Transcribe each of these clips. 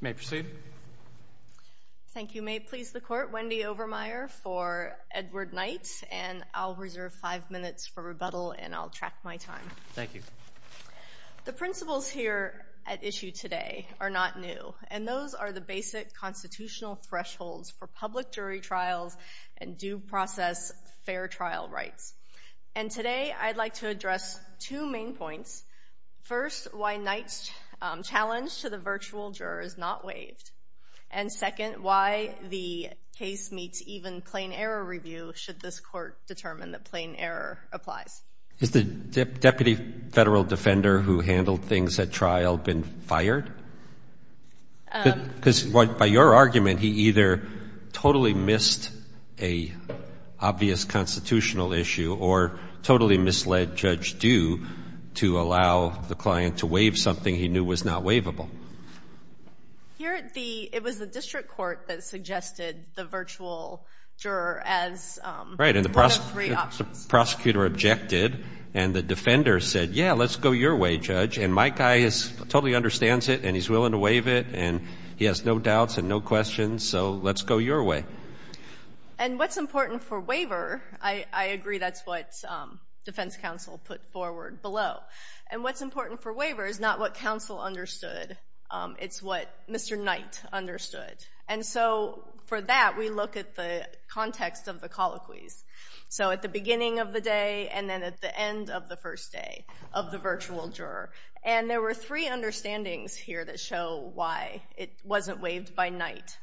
May I proceed? Thank you. May it please the Court, Wendy Overmeyer for Edward Knight, and I'll reserve five minutes for rebuttal, and I'll track my time. Thank you. The principles here at issue today are not new, and those are the basic constitutional thresholds for public jury trials and due process fair trial rights. And today I'd like to address two main points. First, why Knight's challenge to the virtual juror is not waived. And second, why the case meets even plain error review, should this Court determine that plain error applies. Is the deputy federal defender who handled things at trial been fired? Because by your argument, he either totally missed an obvious constitutional issue or totally misled Judge Due to allow the client to waive something he knew was not waivable. Here, it was the district court that suggested the virtual juror as one of three options. Right, and the prosecutor objected, and the defender said, yeah, let's go your way, Judge, and my guy totally understands it, and he's willing to waive it, and he has no doubts and no questions, so let's go your way. And what's important for waiver, I agree that's what defense counsel put forward below, and what's important for waiver is not what counsel understood, it's what Mr. Knight understood. And so for that, we look at the context of the colloquies. So at the beginning of the day and then at the end of the first day of the virtual juror, and there were three understandings here that show why it wasn't waived by Knight.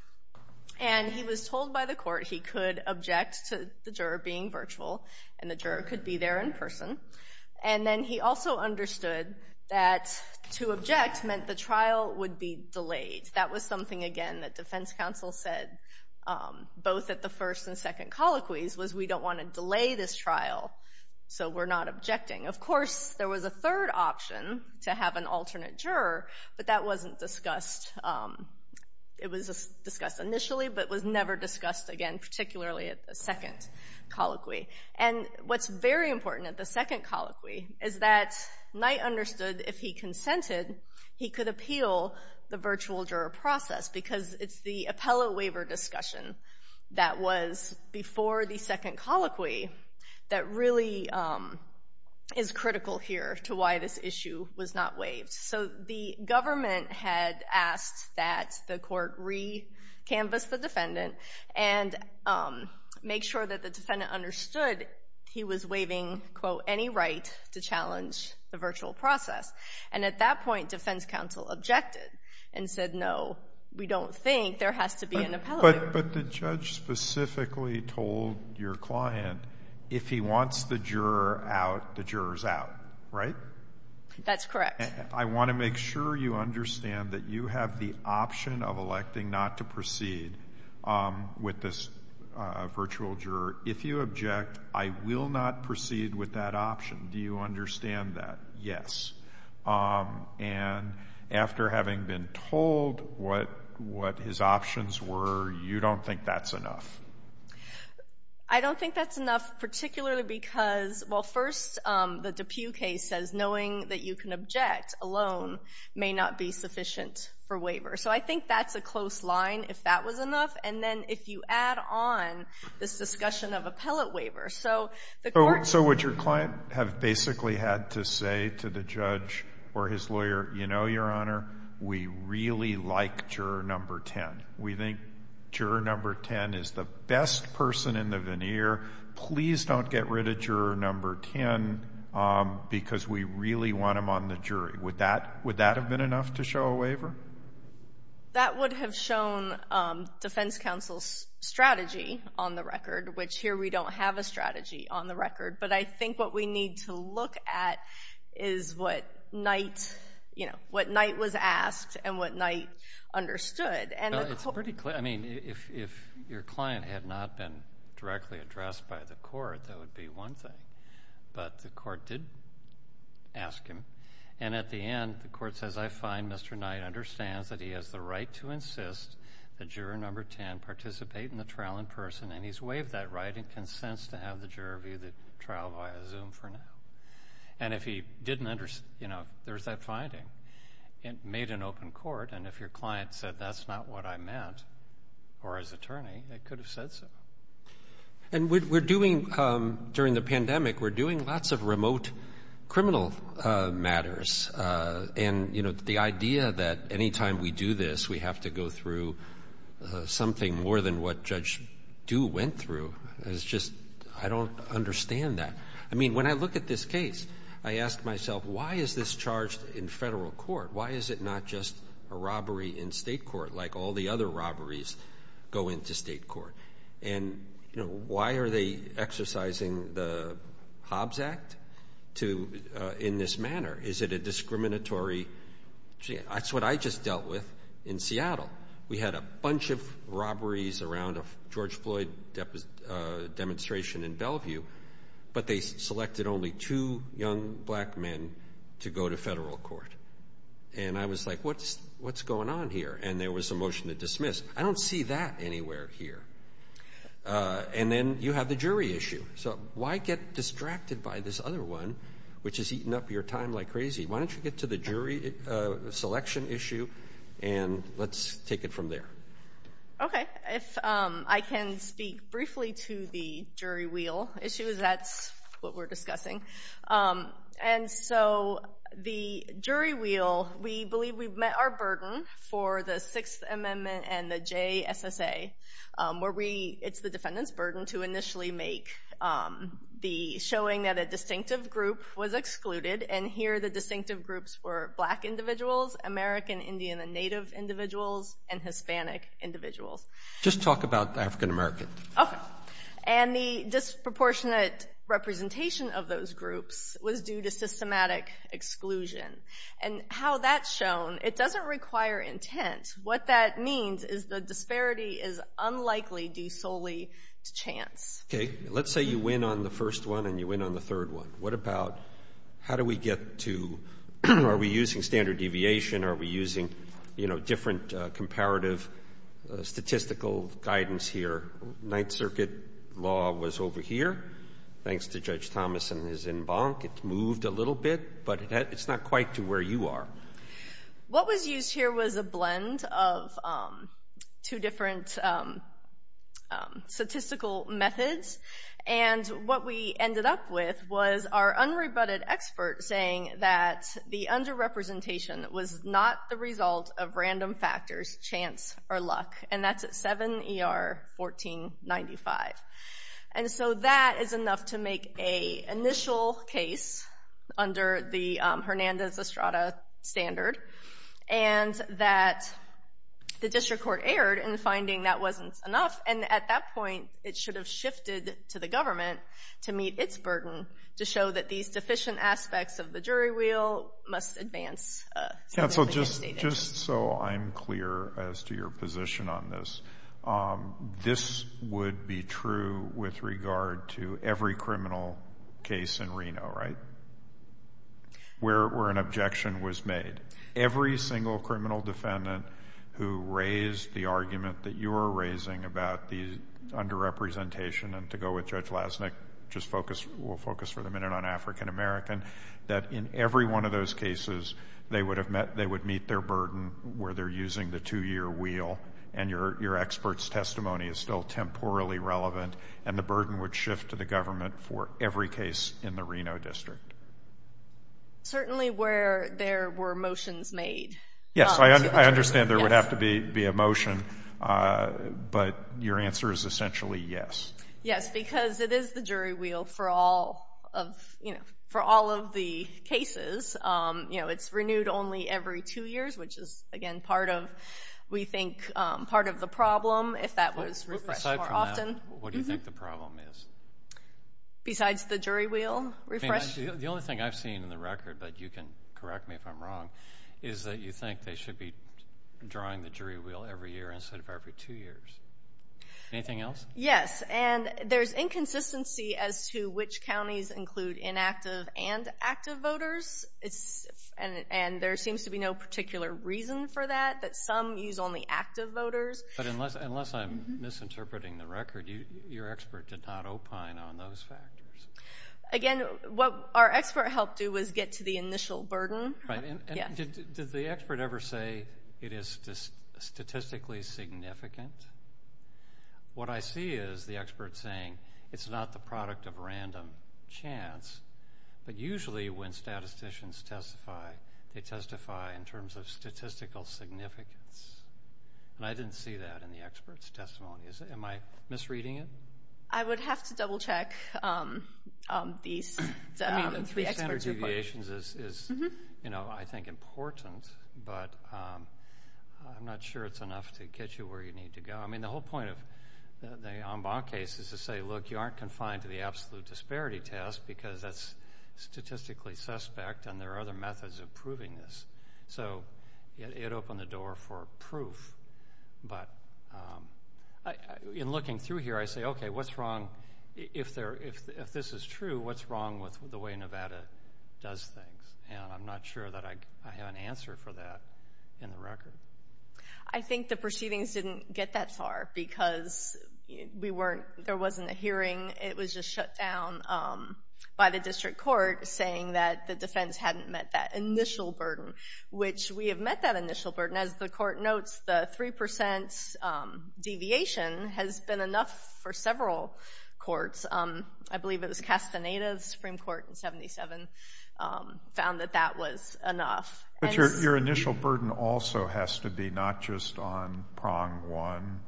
And he was told by the court he could object to the juror being virtual, and the juror could be there in person, and then he also understood that to object meant the trial would be delayed. That was something, again, that defense counsel said both at the first and second colloquies was we don't want to delay this trial, so we're not objecting. Of course, there was a third option to have an alternate juror, but that wasn't discussed. It was discussed initially, but was never discussed again, particularly at the second colloquy. And what's very important at the second colloquy is that Knight understood if he consented, he could appeal the virtual juror process because it's the appellate waiver discussion that was before the second colloquy that really is critical here to why this issue was not waived. So the government had asked that the court recanvass the defendant and make sure that the defendant understood he was waiving, quote, any right to challenge the virtual process. And at that point, defense counsel objected and said, no, we don't think there has to be an appellate waiver. But the judge specifically told your client if he wants the juror out, the juror's out, right? That's correct. I want to make sure you understand that you have the option of electing not to proceed with this virtual juror. If you object, I will not proceed with that option. Do you understand that? Yes. And after having been told what his options were, you decided you don't think that's enough? I don't think that's enough, particularly because, well, first, the Dupuy case says knowing that you can object alone may not be sufficient for waiver. So I think that's a close line, if that was enough. And then if you add on this discussion of appellate waiver, so the court— So would your client have basically had to say to the judge or his lawyer, you know, We think juror number 10 is the best person in the veneer. Please don't get rid of juror number 10 because we really want him on the jury. Would that have been enough to show a waiver? That would have shown defense counsel's strategy on the record, which here we don't have a strategy on the record. But I think what we need to look at is what Knight was asked and what Knight understood. Well, it's pretty clear. I mean, if your client had not been directly addressed by the court, that would be one thing. But the court did ask him, and at the end, the court says, I find Mr. Knight understands that he has the right to insist that juror number 10 participate in the trial in person, and he's waived that right and consents to have the juror view the trial via Zoom for now. And if he didn't understand, you know, there's that finding, it made an open court. And if your client said, that's not what I meant, or his attorney, it could have said so. And we're doing—during the pandemic, we're doing lots of remote criminal matters. And, you know, the idea that any time we do this, we have to go through something more than what Judge Duwe went through is just — I don't understand that. I mean, when I look at this case, I ask myself, why is this charged in Federal court? Why is it not just a robbery in State court, like all the other robberies go into State court? And, you know, why are they exercising the Hobbs Act to — in this manner? Is it a discriminatory — that's what I just dealt with in Seattle. We had a bunch of robberies around a George Floyd demonstration in Bellevue, but they selected only two young black men to go to Federal court. And I was like, what's going on here? And there was a motion to dismiss. I don't see that anywhere here. And then you have the jury issue. So why get distracted by this other one, which has eaten up your time like crazy? Why don't you get to the jury selection issue, and let's take it from there. Okay. If I can speak briefly to the jury wheel issue, that's what we're discussing. And so the jury wheel, we believe we've met our burden for the Sixth Amendment and the J.S.S.A., where we — it's the defendant's burden to initially make the — showing that a distinctive group was excluded. And here, the distinctive groups were black individuals, American Indian and Native individuals, and Hispanic individuals. Just talk about African American. Okay. And the disproportionate representation of those groups was due to systematic exclusion. And how that's shown, it doesn't require intent. What that means is the disparity is unlikely due solely to chance. Okay. Let's say you win on the first one and you win on the third one. What about — how do we get to — are we using standard deviation? Are we using, you know, different comparative statistical guidance here? Ninth Circuit law was over here, thanks to Judge Thomas and his en banc. It's moved a little bit, but it's not quite to where you are. What was used here was a blend of two different statistical methods. And what we ended up with was our unrebutted expert saying that the underrepresentation was not the result of random factors, chance, or luck. And that's at 7 ER 1495. And so that is enough to make a initial case under the Hernandez-Estrada standard. And that the district court erred in finding that wasn't enough. And at that point, it should have shifted to the government to meet its burden, to show that these deficient aspects of the jury wheel must advance. Yeah. So just so I'm clear as to your position on this, this would be true with regard to every criminal case in Reno, right? Where an objection was made. Every single criminal defendant who raised the argument that you are raising about the underrepresentation — and to go with Judge Lasnik, we'll focus for the minute on African-American — that in every one of those cases, they would meet their burden where they're using the two-year wheel and your expert's testimony is still temporally relevant, and the burden would shift to the government for every case in the Reno district. Certainly where there were motions made. Yes. I understand there would have to be a motion, but your answer is essentially yes. Yes, because it is the jury wheel for all of the cases. It's renewed only every two years, which is, again, part of, we think, part of the problem, if that was refreshed more often. What do you think the problem is? Besides the jury wheel refreshed? The only thing I've seen in the record, but you can correct me if I'm wrong, is that you think they should be drawing the jury wheel every year instead of every two years. Anything else? Yes. And there's inconsistency as to which counties include inactive and active voters, and there seems to be no particular reason for that, that some use only active voters. But unless I'm misinterpreting the record, your expert did not opine on those factors. Again, what our expert helped do was get to the initial burden. Right. And did the expert ever say it is statistically significant? What I see is the expert saying it's not the product of random chance, but usually when statisticians testify, they testify in terms of statistical significance. And I didn't see that in the expert's testimonies. Am I misreading it? I would have to double-check these, I mean, the three experts' opinions. The three standard deviations is, you know, I think important, but I'm not sure it's enough to get you where you need to go. I mean, the whole point of the Ambon case is to say, look, you aren't confined to the absolute disparity test because that's statistically suspect and there are other methods of proving this. So it opened the door for proof, but in looking through here, I say, okay, what's wrong? If this is true, what's wrong with the way Nevada does things? And I'm not sure that I have an answer for that in the record. I think the proceedings didn't get that far because there wasn't a hearing, it was just shut down by the district court saying that the defense hadn't met that initial burden, which we have met that initial burden. As the court notes, the 3% deviation has been enough for several courts. I believe it was Castaneda, the Supreme Court in 77, found that that was enough. Your initial burden also has to be not just on prong one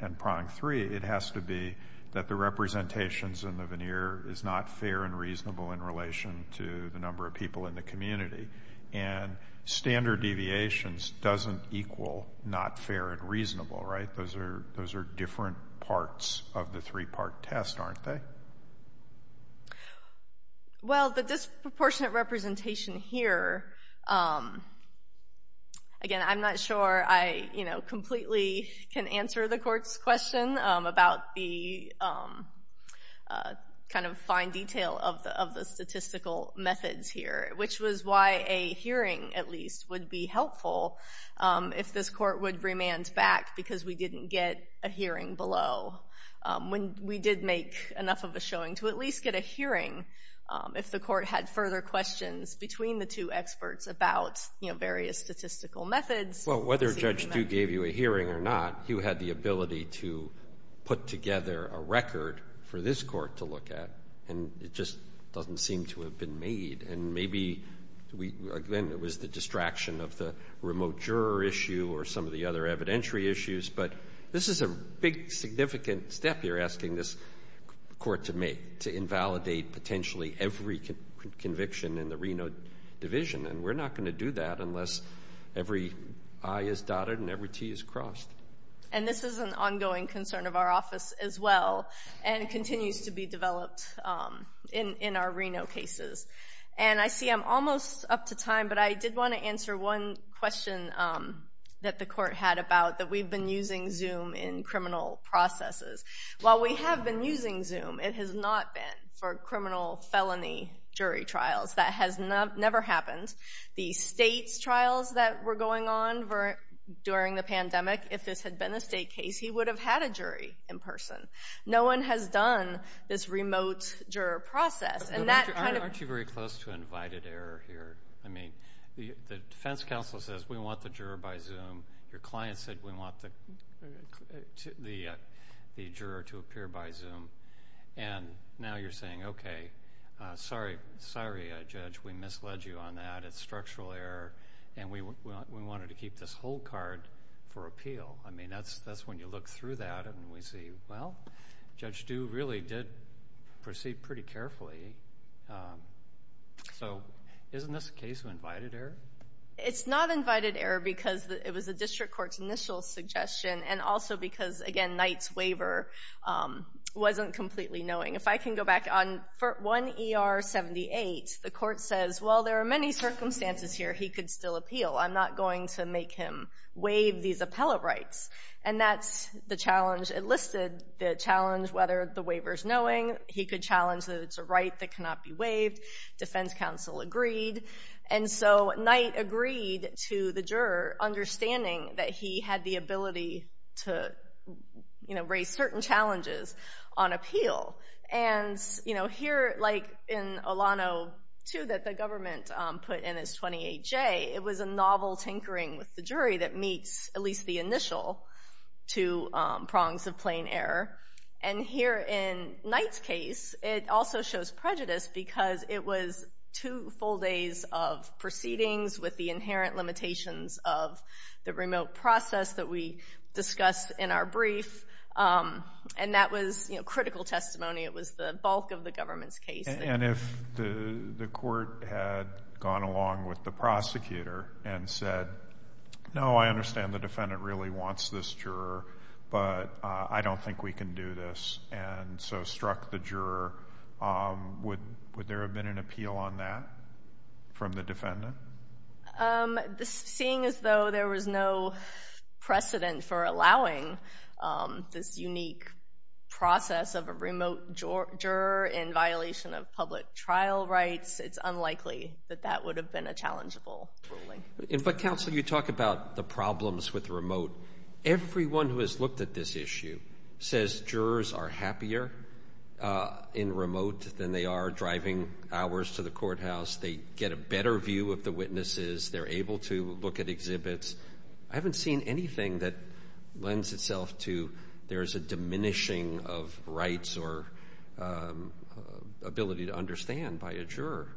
and prong three, it has to be that the representations in the veneer is not fair and reasonable in relation to the number of people in the community. And standard deviations doesn't equal not fair and reasonable, right? Those are different parts of the three-part test, aren't they? Well, the disproportionate representation here, again, I'm not sure I completely can answer the court's question about the kind of fine detail of the statistical methods here, which was why a hearing, at least, would be helpful if this court would remand back because we didn't get a hearing below. When we did make enough of a showing to at least get a hearing, if the court had further questions between the two experts about, you know, various statistical methods. Well, whether Judge Du gave you a hearing or not, you had the ability to put together a record for this court to look at, and it just doesn't seem to have been made. And maybe we, again, it was the distraction of the remote juror issue or some of the other evidentiary issues, but this is a big, significant step you're asking this court to make, to invalidate potentially every conviction in the Reno division, and we're not going to do that unless every I is dotted and every T is crossed. And this is an ongoing concern of our office as well, and it continues to be developed in our Reno cases. And I see I'm almost up to time, but I did want to answer one question that the court had about that we've been using Zoom in criminal processes. While we have been using Zoom, it has not been for criminal felony jury trials. That has never happened. The state's trials that were going on during the pandemic, if this had been a state case, he would have had a jury in person. No one has done this remote juror process, and that kind of... Aren't you very close to an invited error here? I mean, the defense counsel says, we want the juror by Zoom. Your client said, we want the juror to appear by Zoom. And now you're saying, okay, sorry, Judge, we misled you on that. It's structural error, and we wanted to keep this whole card for appeal. I mean, that's when you look through that and we see, well, Judge Du really did proceed pretty carefully. So isn't this a case of invited error? It's not invited error because it was the district court's initial suggestion, and also because, again, Knight's waiver wasn't completely knowing. If I can go back on 1 ER 78, the court says, well, there are many circumstances here he could still appeal. I'm not going to make him waive these appellate rights. And that's the challenge enlisted, the challenge whether the waiver's knowing. He could challenge that it's a right that cannot be waived. Defense counsel agreed. And so Knight agreed to the juror understanding that he had the ability to raise certain challenges on appeal. And here, like in Olano 2 that the government put in as 28J, it was a novel tinkering with the jury that meets at least the initial two prongs of plain error. And here in Knight's case, it also shows prejudice because it was two full days of proceedings with the inherent limitations of the remote process that we discussed in our brief. And that was critical testimony. It was the bulk of the government's case. And if the court had gone along with the prosecutor and said, no, I understand the defendant really wants this juror, but I don't think we can do this, and so struck the juror, would there have been an appeal on that from the defendant? Seeing as though there was no precedent for allowing this unique process of a remote juror in violation of public trial rights, it's unlikely that that would have been a challengeable ruling. But counsel, you talk about the problems with remote. Everyone who has looked at this issue says jurors are happier in remote than they are driving hours to the courthouse. They get a better view of the witnesses. They're able to look at exhibits. I haven't seen anything that lends itself to there's a diminishing of rights or ability to understand by a juror.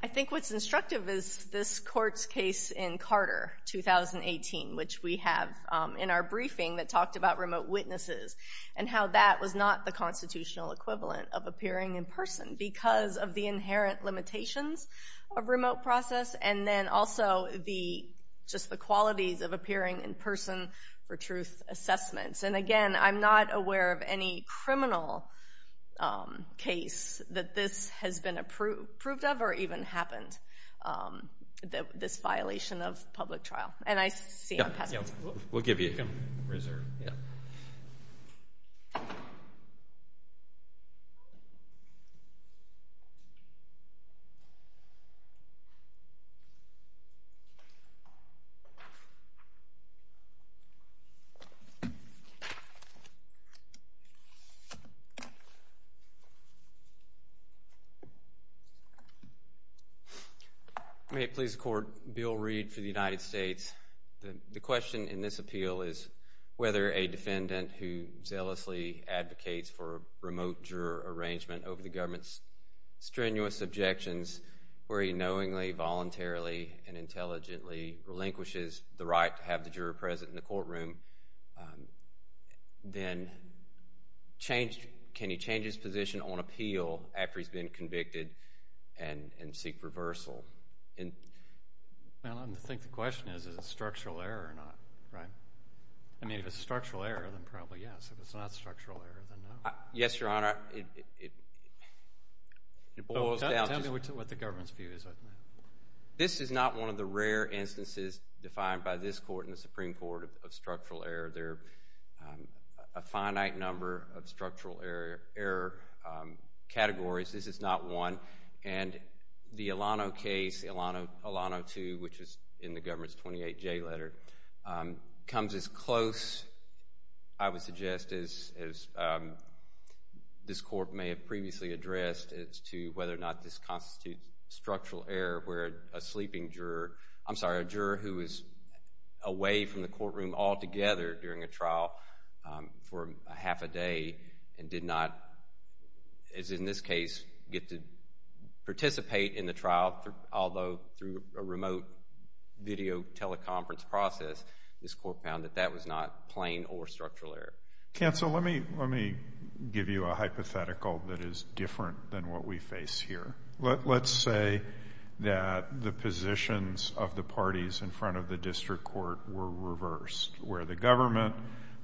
I think what's instructive is this Court's case in Carter, 2018, which we have in our witnesses, and how that was not the constitutional equivalent of appearing in person because of the inherent limitations of remote process, and then also just the qualities of appearing in person for truth assessments. And again, I'm not aware of any criminal case that this has been approved of or even happened, this violation of public trial. And I see I'm passing it to you. We'll give you a reserve. May it please the Court, Bill Reed for the United States. The question in this appeal is whether a defendant who zealously advocates for a remote juror arrangement over the government's strenuous objections, where he knowingly, voluntarily, and intelligently relinquishes the right to have the juror present in the courtroom, then can he change his position on appeal after he's been convicted and seek reversal? I think the question is, is it structural error or not, right? I mean, if it's structural error, then probably yes. If it's not structural error, then no. Yes, Your Honor. Tell me what the government's view is on that. This is not one of the rare instances defined by this Court and the Supreme Court of structural error. There are a finite number of structural error categories. This is not one. And the Alano case, Alano 2, which is in the government's 28J letter, comes as close, I would suggest, as this Court may have previously addressed, as to whether or not this constitutes structural error where a sleeping juror, I'm sorry, a juror who was away from the courtroom altogether during a trial for a half a day and did not, as in this case, get to go to participate in the trial, although through a remote video teleconference process, this Court found that that was not plain or structural error. Counsel, let me give you a hypothetical that is different than what we face here. Let's say that the positions of the parties in front of the district court were reversed, where the government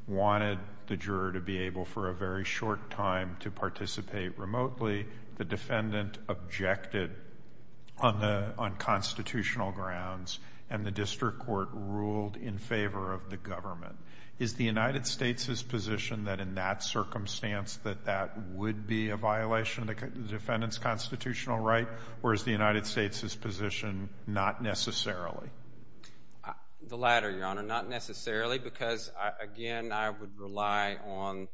wanted the juror to be able for a very short time to participate remotely, the defendant objected on constitutional grounds, and the district court ruled in favor of the government. Is the United States' position that in that circumstance that that would be a violation of the defendant's constitutional right, or is the United States' position not necessarily? The latter, Your Honor. Not necessarily, because, again, I would rely on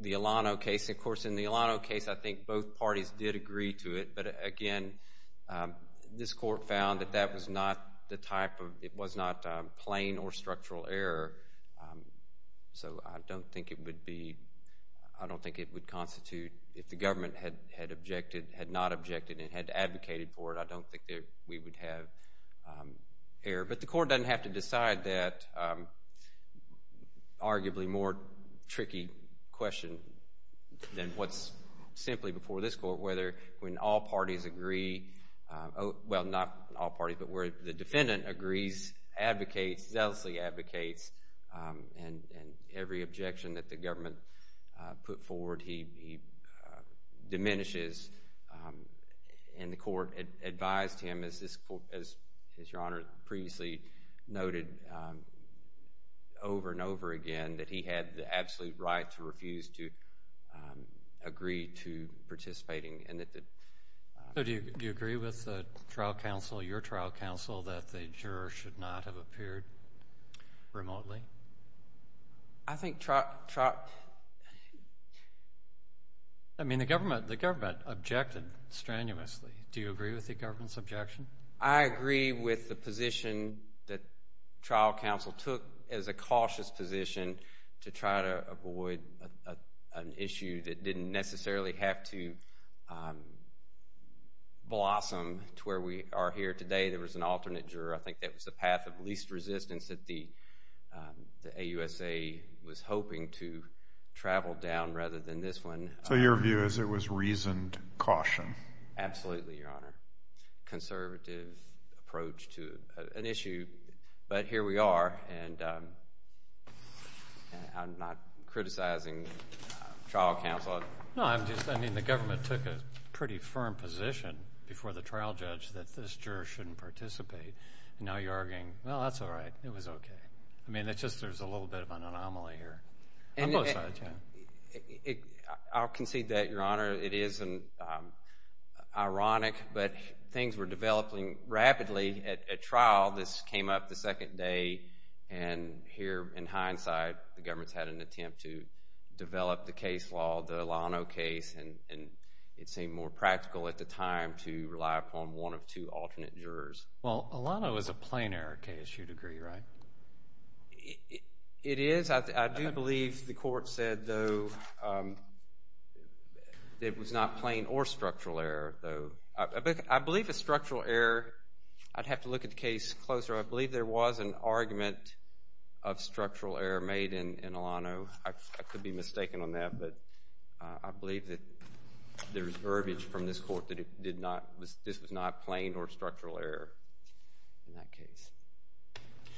the Alano case. Of course, in the Alano case, I think both parties did agree to it, but again, this Court found that that was not the type of, it was not plain or structural error, so I don't think it would be, I don't think it would constitute, if the government had objected, had not objected, and had advocated for it, I don't think that we would have error. But the Court doesn't have to decide that arguably more tricky question than what's simply before this Court, whether when all parties agree, well, not all parties, but where the defendant agrees, advocates, zealously advocates, and every objection that the government put forward, he diminishes, and the Court advised him, as this Court, as Your Honor previously noted, over and over again, that he had the absolute right to refuse to agree to participating, and that the... So, do you agree with the trial counsel, your trial counsel, that the jurors should not have appeared remotely? I think trial, I mean, the government, the government objected strenuously. Do you agree with the government's objection? I agree with the position that trial counsel took as a cautious position to try to avoid an issue that didn't necessarily have to blossom to where we are here today. There was an alternate juror. I think that was the path of least resistance that the AUSA was hoping to travel down, rather than this one. So, your view is it was reasoned caution? Absolutely, Your Honor. Conservative approach to an issue, but here we are, and I'm not criticizing trial counsel. No, I'm just, I mean, the government took a pretty firm position before the trial judge that this juror shouldn't participate, and now you're arguing, well, that's all right. It was okay. I mean, it's just there's a little bit of an anomaly here on both sides, yeah. I'll concede that, Your Honor. It is ironic, but things were developing rapidly at trial. This came up the second day, and here, in hindsight, the government's had an attempt to develop the case law, the Alano case, and it seemed more practical at the time to rely upon one of two alternate jurors. Well, Alano is a plain error case, you'd agree, right? It is. I do believe the court said, though, that it was not plain or structural error, though. I believe it's structural error. I'd have to look at the case closer. I believe there was an argument of structural error made in Alano. I could be mistaken on that, but I believe that there's verbiage from this court that this was not plain or structural error in that case.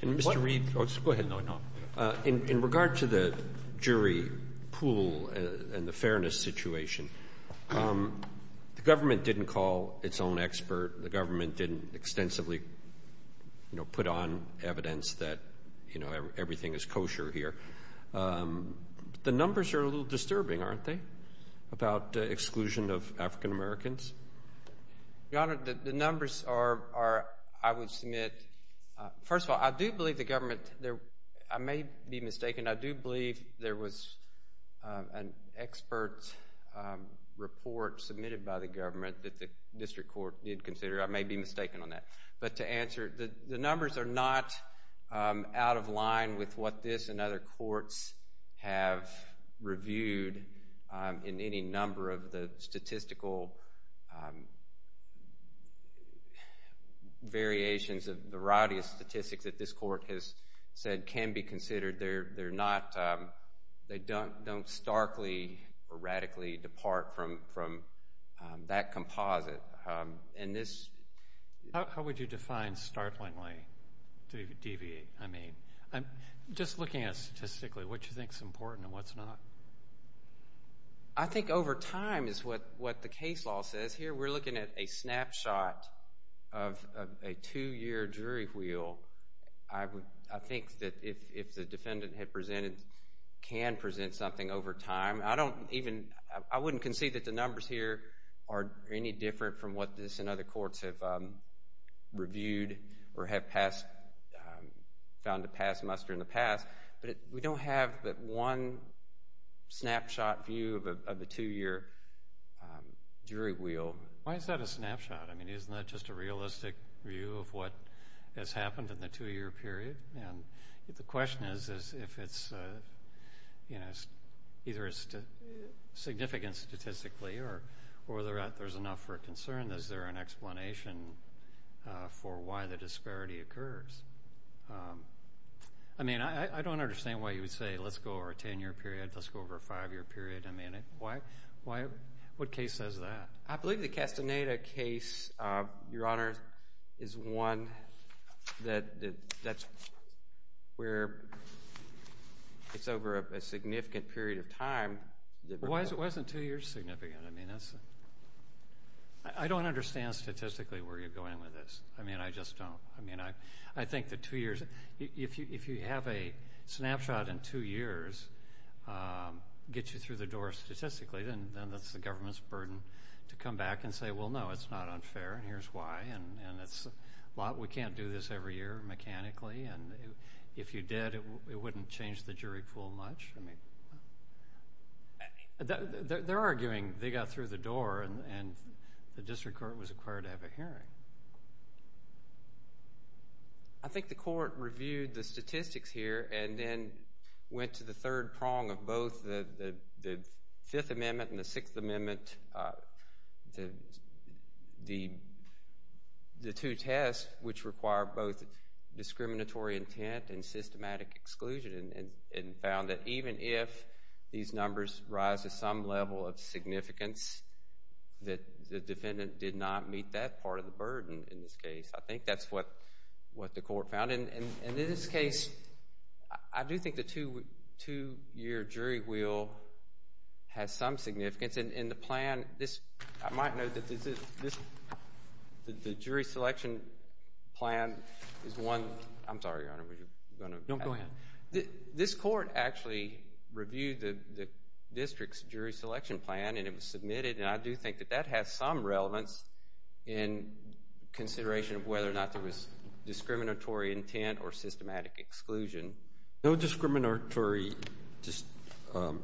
And, Mr. Reed, go ahead. No, no. In regard to the jury pool and the fairness situation, the government didn't call its own expert. The government didn't extensively, you know, put on evidence that, you know, everything is kosher here. The numbers are a little disturbing, aren't they, about exclusion of African Americans? Your Honor, the numbers are, I would submit, first of all, I do believe the government, I may be mistaken. I do believe there was an expert report submitted by the government that the district court did consider. I may be mistaken on that. But to answer, the numbers are not out of line with what this and other courts have reviewed in any number of the statistical variations of the variety of statistics that this court has said can be considered. They're not, they don't starkly or radically depart from that composite. How would you define starkly to deviate? I mean, just looking at it statistically, what you think is important and what's not. I think over time is what the case law says here. We're looking at a snapshot of a two-year jury wheel. I think that if the defendant had presented, can present something over time. I don't even, I wouldn't concede that the numbers here are any different from what this and other courts have reviewed or have found to pass muster in the past. But we don't have that one snapshot view of the two-year jury wheel. Why is that a snapshot? I mean, isn't that just a realistic view of what has happened in the two-year period? And the question is if it's, you know, either it's significant statistically or there's enough for a concern, is there an explanation for why the disparity occurs? I mean, I don't understand why you would say let's go over a ten-year period, let's go over a five-year period. I mean, why, what case says that? I believe the Castaneda case, Your Honor, is one that's where it's over a significant period of time. Why isn't two years significant? I mean, that's, I don't understand statistically where you're going with this. I mean, I just don't. I mean, I think the two years, if you have a snapshot in two years get you through the door statistically, then that's the government's burden to come back and say, well, no, it's not unfair and here's why. And it's a lot, we can't do this every year mechanically. And if you did, it wouldn't change the jury pool much. They're arguing they got through the door and the district court was required to have a hearing. I think the court reviewed the statistics here and then went to the third prong of both the Fifth Amendment and the Sixth Amendment, the two tests which require both discriminatory intent and systematic exclusion and found that even if these numbers rise to some level of significance, that the defendant did not meet that part of the burden in this case. I think that's what the court found. And in this case, I do think the two-year jury wheel has some significance. And the plan, I might note that the jury selection plan is one, I'm sorry, Your Honor, No, go ahead. This court actually reviewed the district's jury selection plan and it was submitted and I do think that that has some relevance in consideration of whether or not there was discriminatory intent or systematic exclusion. No discriminatory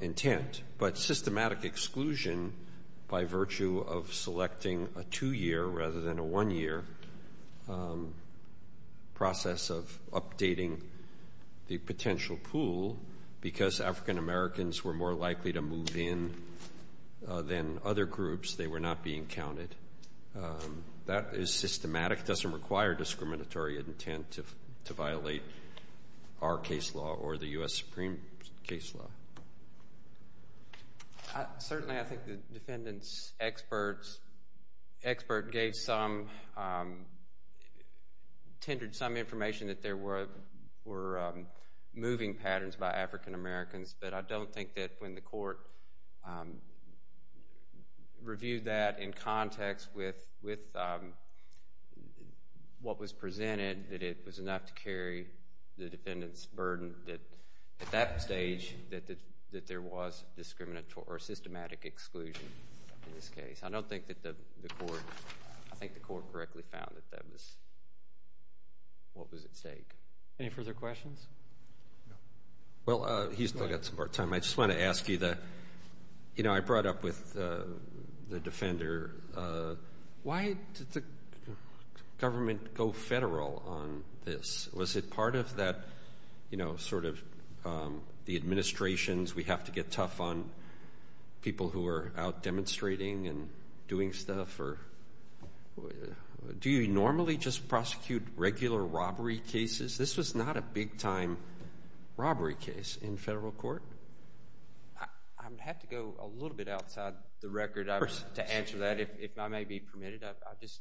intent, but systematic exclusion by virtue of selecting a two-year rather than a one-year process of updating the potential pool because African-Americans were more likely to move in than other groups. They were not being counted. That is systematic. It doesn't require discriminatory intent to violate our case law or the U.S. Supreme case law. Certainly, I think the defendant's expert gave some, tended some information that there were moving patterns by African-Americans. But I don't think that when the court reviewed that in context with what was presented, that it was enough to carry the defendant's burden that at that stage that there was discriminatory or systematic exclusion in this case. I don't think that the court, I think the court correctly found that that was what was at stake. Any further questions? Well, he's got some more time. I just want to ask you the, you know, I brought up with the defender, why did the government go federal on this? Was it part of that, you know, sort of the administrations, we have to get tough on people who are out demonstrating and doing stuff? Do you normally just prosecute regular robbery cases? This was not a big-time robbery case in federal court. I would have to go a little bit outside the record to answer that. If I may be permitted, I just,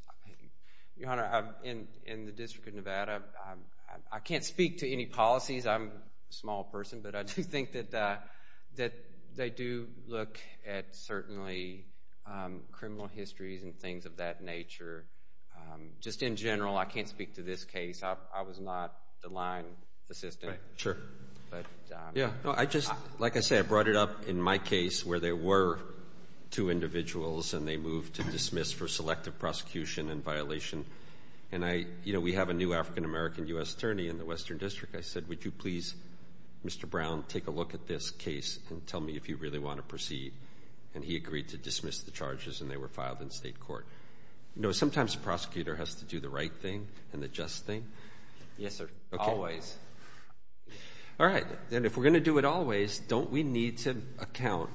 Your Honor, I'm in the District of Nevada. I can't speak to any policies. I'm a small person, but I do think that they do look at certainly criminal histories and things of that nature. Just in general, I can't speak to this case. I was not the line assistant. Sure. But, yeah. No, I just, like I said, I brought it up in my case where there were two individuals and they moved to dismiss for selective prosecution and violation. And I, you know, we have a new African-American U.S. attorney in the Western District. I said, would you please, Mr. Brown, take a look at this case and tell me if you really want to proceed. And he agreed to dismiss the charges and they were filed in state court. You know, sometimes a prosecutor has to do the right thing and the just thing. Yes, sir. Always. All right. And if we're going to do it always, don't we need to account?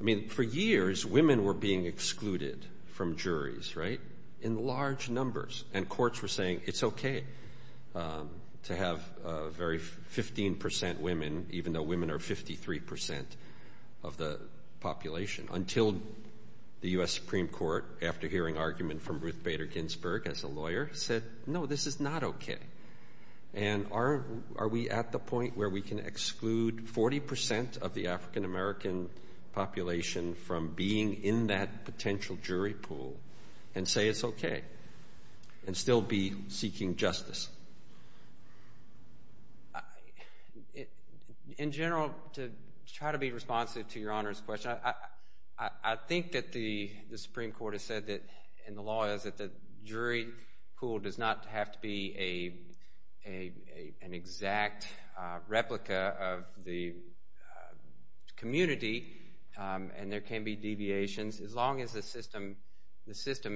I mean, for years, women were being excluded from juries, right? In large numbers. And courts were saying it's okay to have 15% women, even though women are 53% of the population. Until the U.S. Supreme Court, after hearing argument from Ruth Bader Ginsburg as a lawyer, said, no, this is not okay. And are we at the point where we can exclude 40% of the African-American population from being in that potential jury pool and say it's okay? And still be seeking justice? In general, to try to be responsive to Your Honor's question, I think that the Supreme Court has said that, in the law, that the jury pool does not have to be an exact replica of the community and there can be deviations as long as the system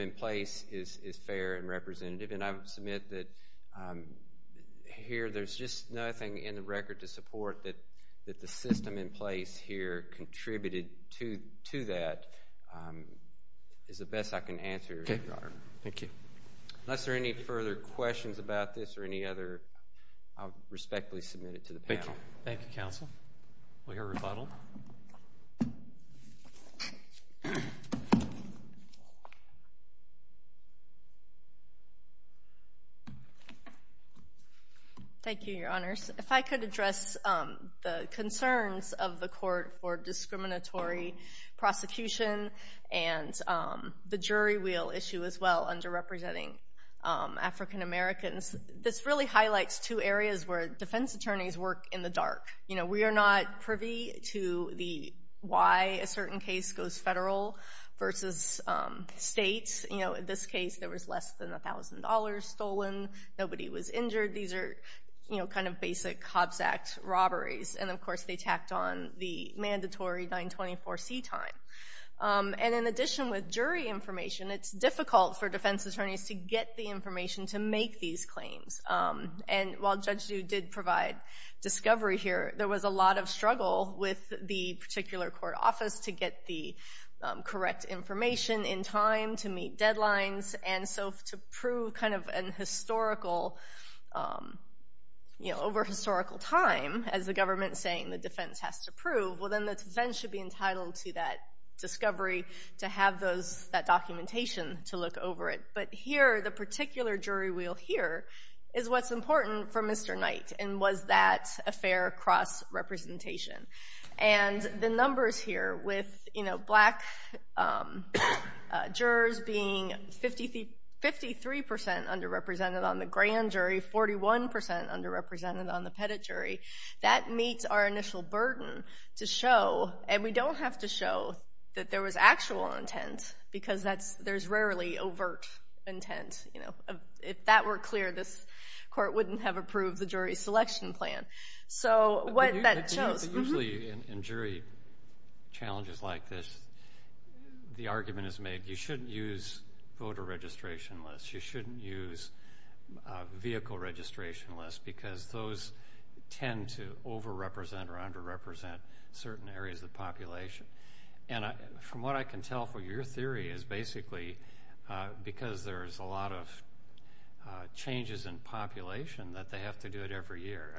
in place is fair and representative. And I would submit that here there's just nothing in the record to support that the system in place here contributed to that is the best I can answer, Your Honor. Okay. Thank you. Unless there are any further questions about this or any other, I'll respectfully submit it to the panel. Thank you. Thank you, Counsel. We are rebuttaled. Thank you, Your Honors. If I could address the concerns of the court for discriminatory prosecution and the jury wheel issue as well, underrepresenting African-Americans. This really highlights two areas where defense attorneys work in the dark. We are not privy to why a certain case goes federal versus states. In this case, there was less than $1,000 stolen. Nobody was injured. These are kind of basic Hobbs Act robberies. And of course, they tacked on the mandatory 924C time. And in addition with jury information, it's difficult for defense attorneys to get the information to make these claims. And while Judge Dude did provide discovery here, there was a lot of struggle with the particular court office to get the correct information in time, to meet deadlines, and so to prove kind of an over-historical time, as the government is saying the defense has to prove, well then the defense should be entitled to that discovery, to have that documentation to look over it. But here, the particular jury wheel here is what's important for Mr. Knight. And was that a fair cross-representation? And the numbers here with black jurors being 53% underrepresented on the grand jury, 41% underrepresented on the pettit jury, that meets our initial burden to show, and we don't have to show that there was actual intent, because there's rarely overt intent. If that were clear, this court wouldn't have approved the jury selection plan. So, what that shows... Usually in jury challenges like this, the argument is made, you shouldn't use voter registration lists, you shouldn't use vehicle registration lists, because those tend to over-represent or under-represent certain areas of the population. And from what I can tell from your theory, is basically because there's a lot of changes in population, that they have to do it every year.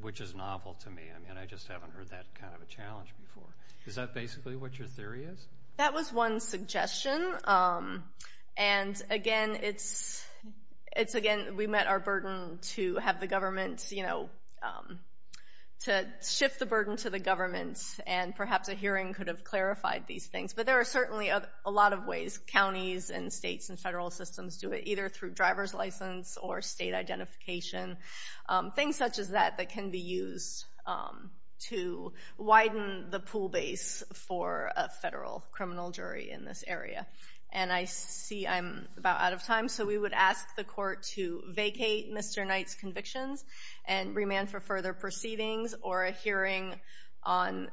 Which is novel to me. I just haven't heard that kind of a challenge before. Is that basically what your theory is? That was one suggestion. And again, we met our burden to have the government, to shift the burden to the government, and perhaps a hearing could have clarified these things. But there are certainly a lot of ways counties and states and federal systems do it, either through driver's license or state identification. Things such as that, that can be used to widen the pool base for a federal criminal jury in this area. And I see I'm about out of time, so we would ask the court to vacate Mr. Knight's convictions, and remand for further proceedings or a hearing on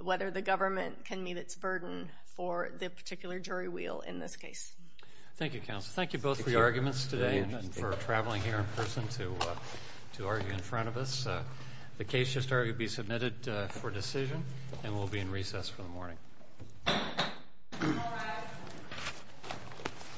whether the government can meet its burden for the particular jury wheel in this case. Thank you, counsel. Thank you both for your arguments today, and for traveling here in person to argue in front of us. The case should be submitted for decision, and we'll be in recess for the morning.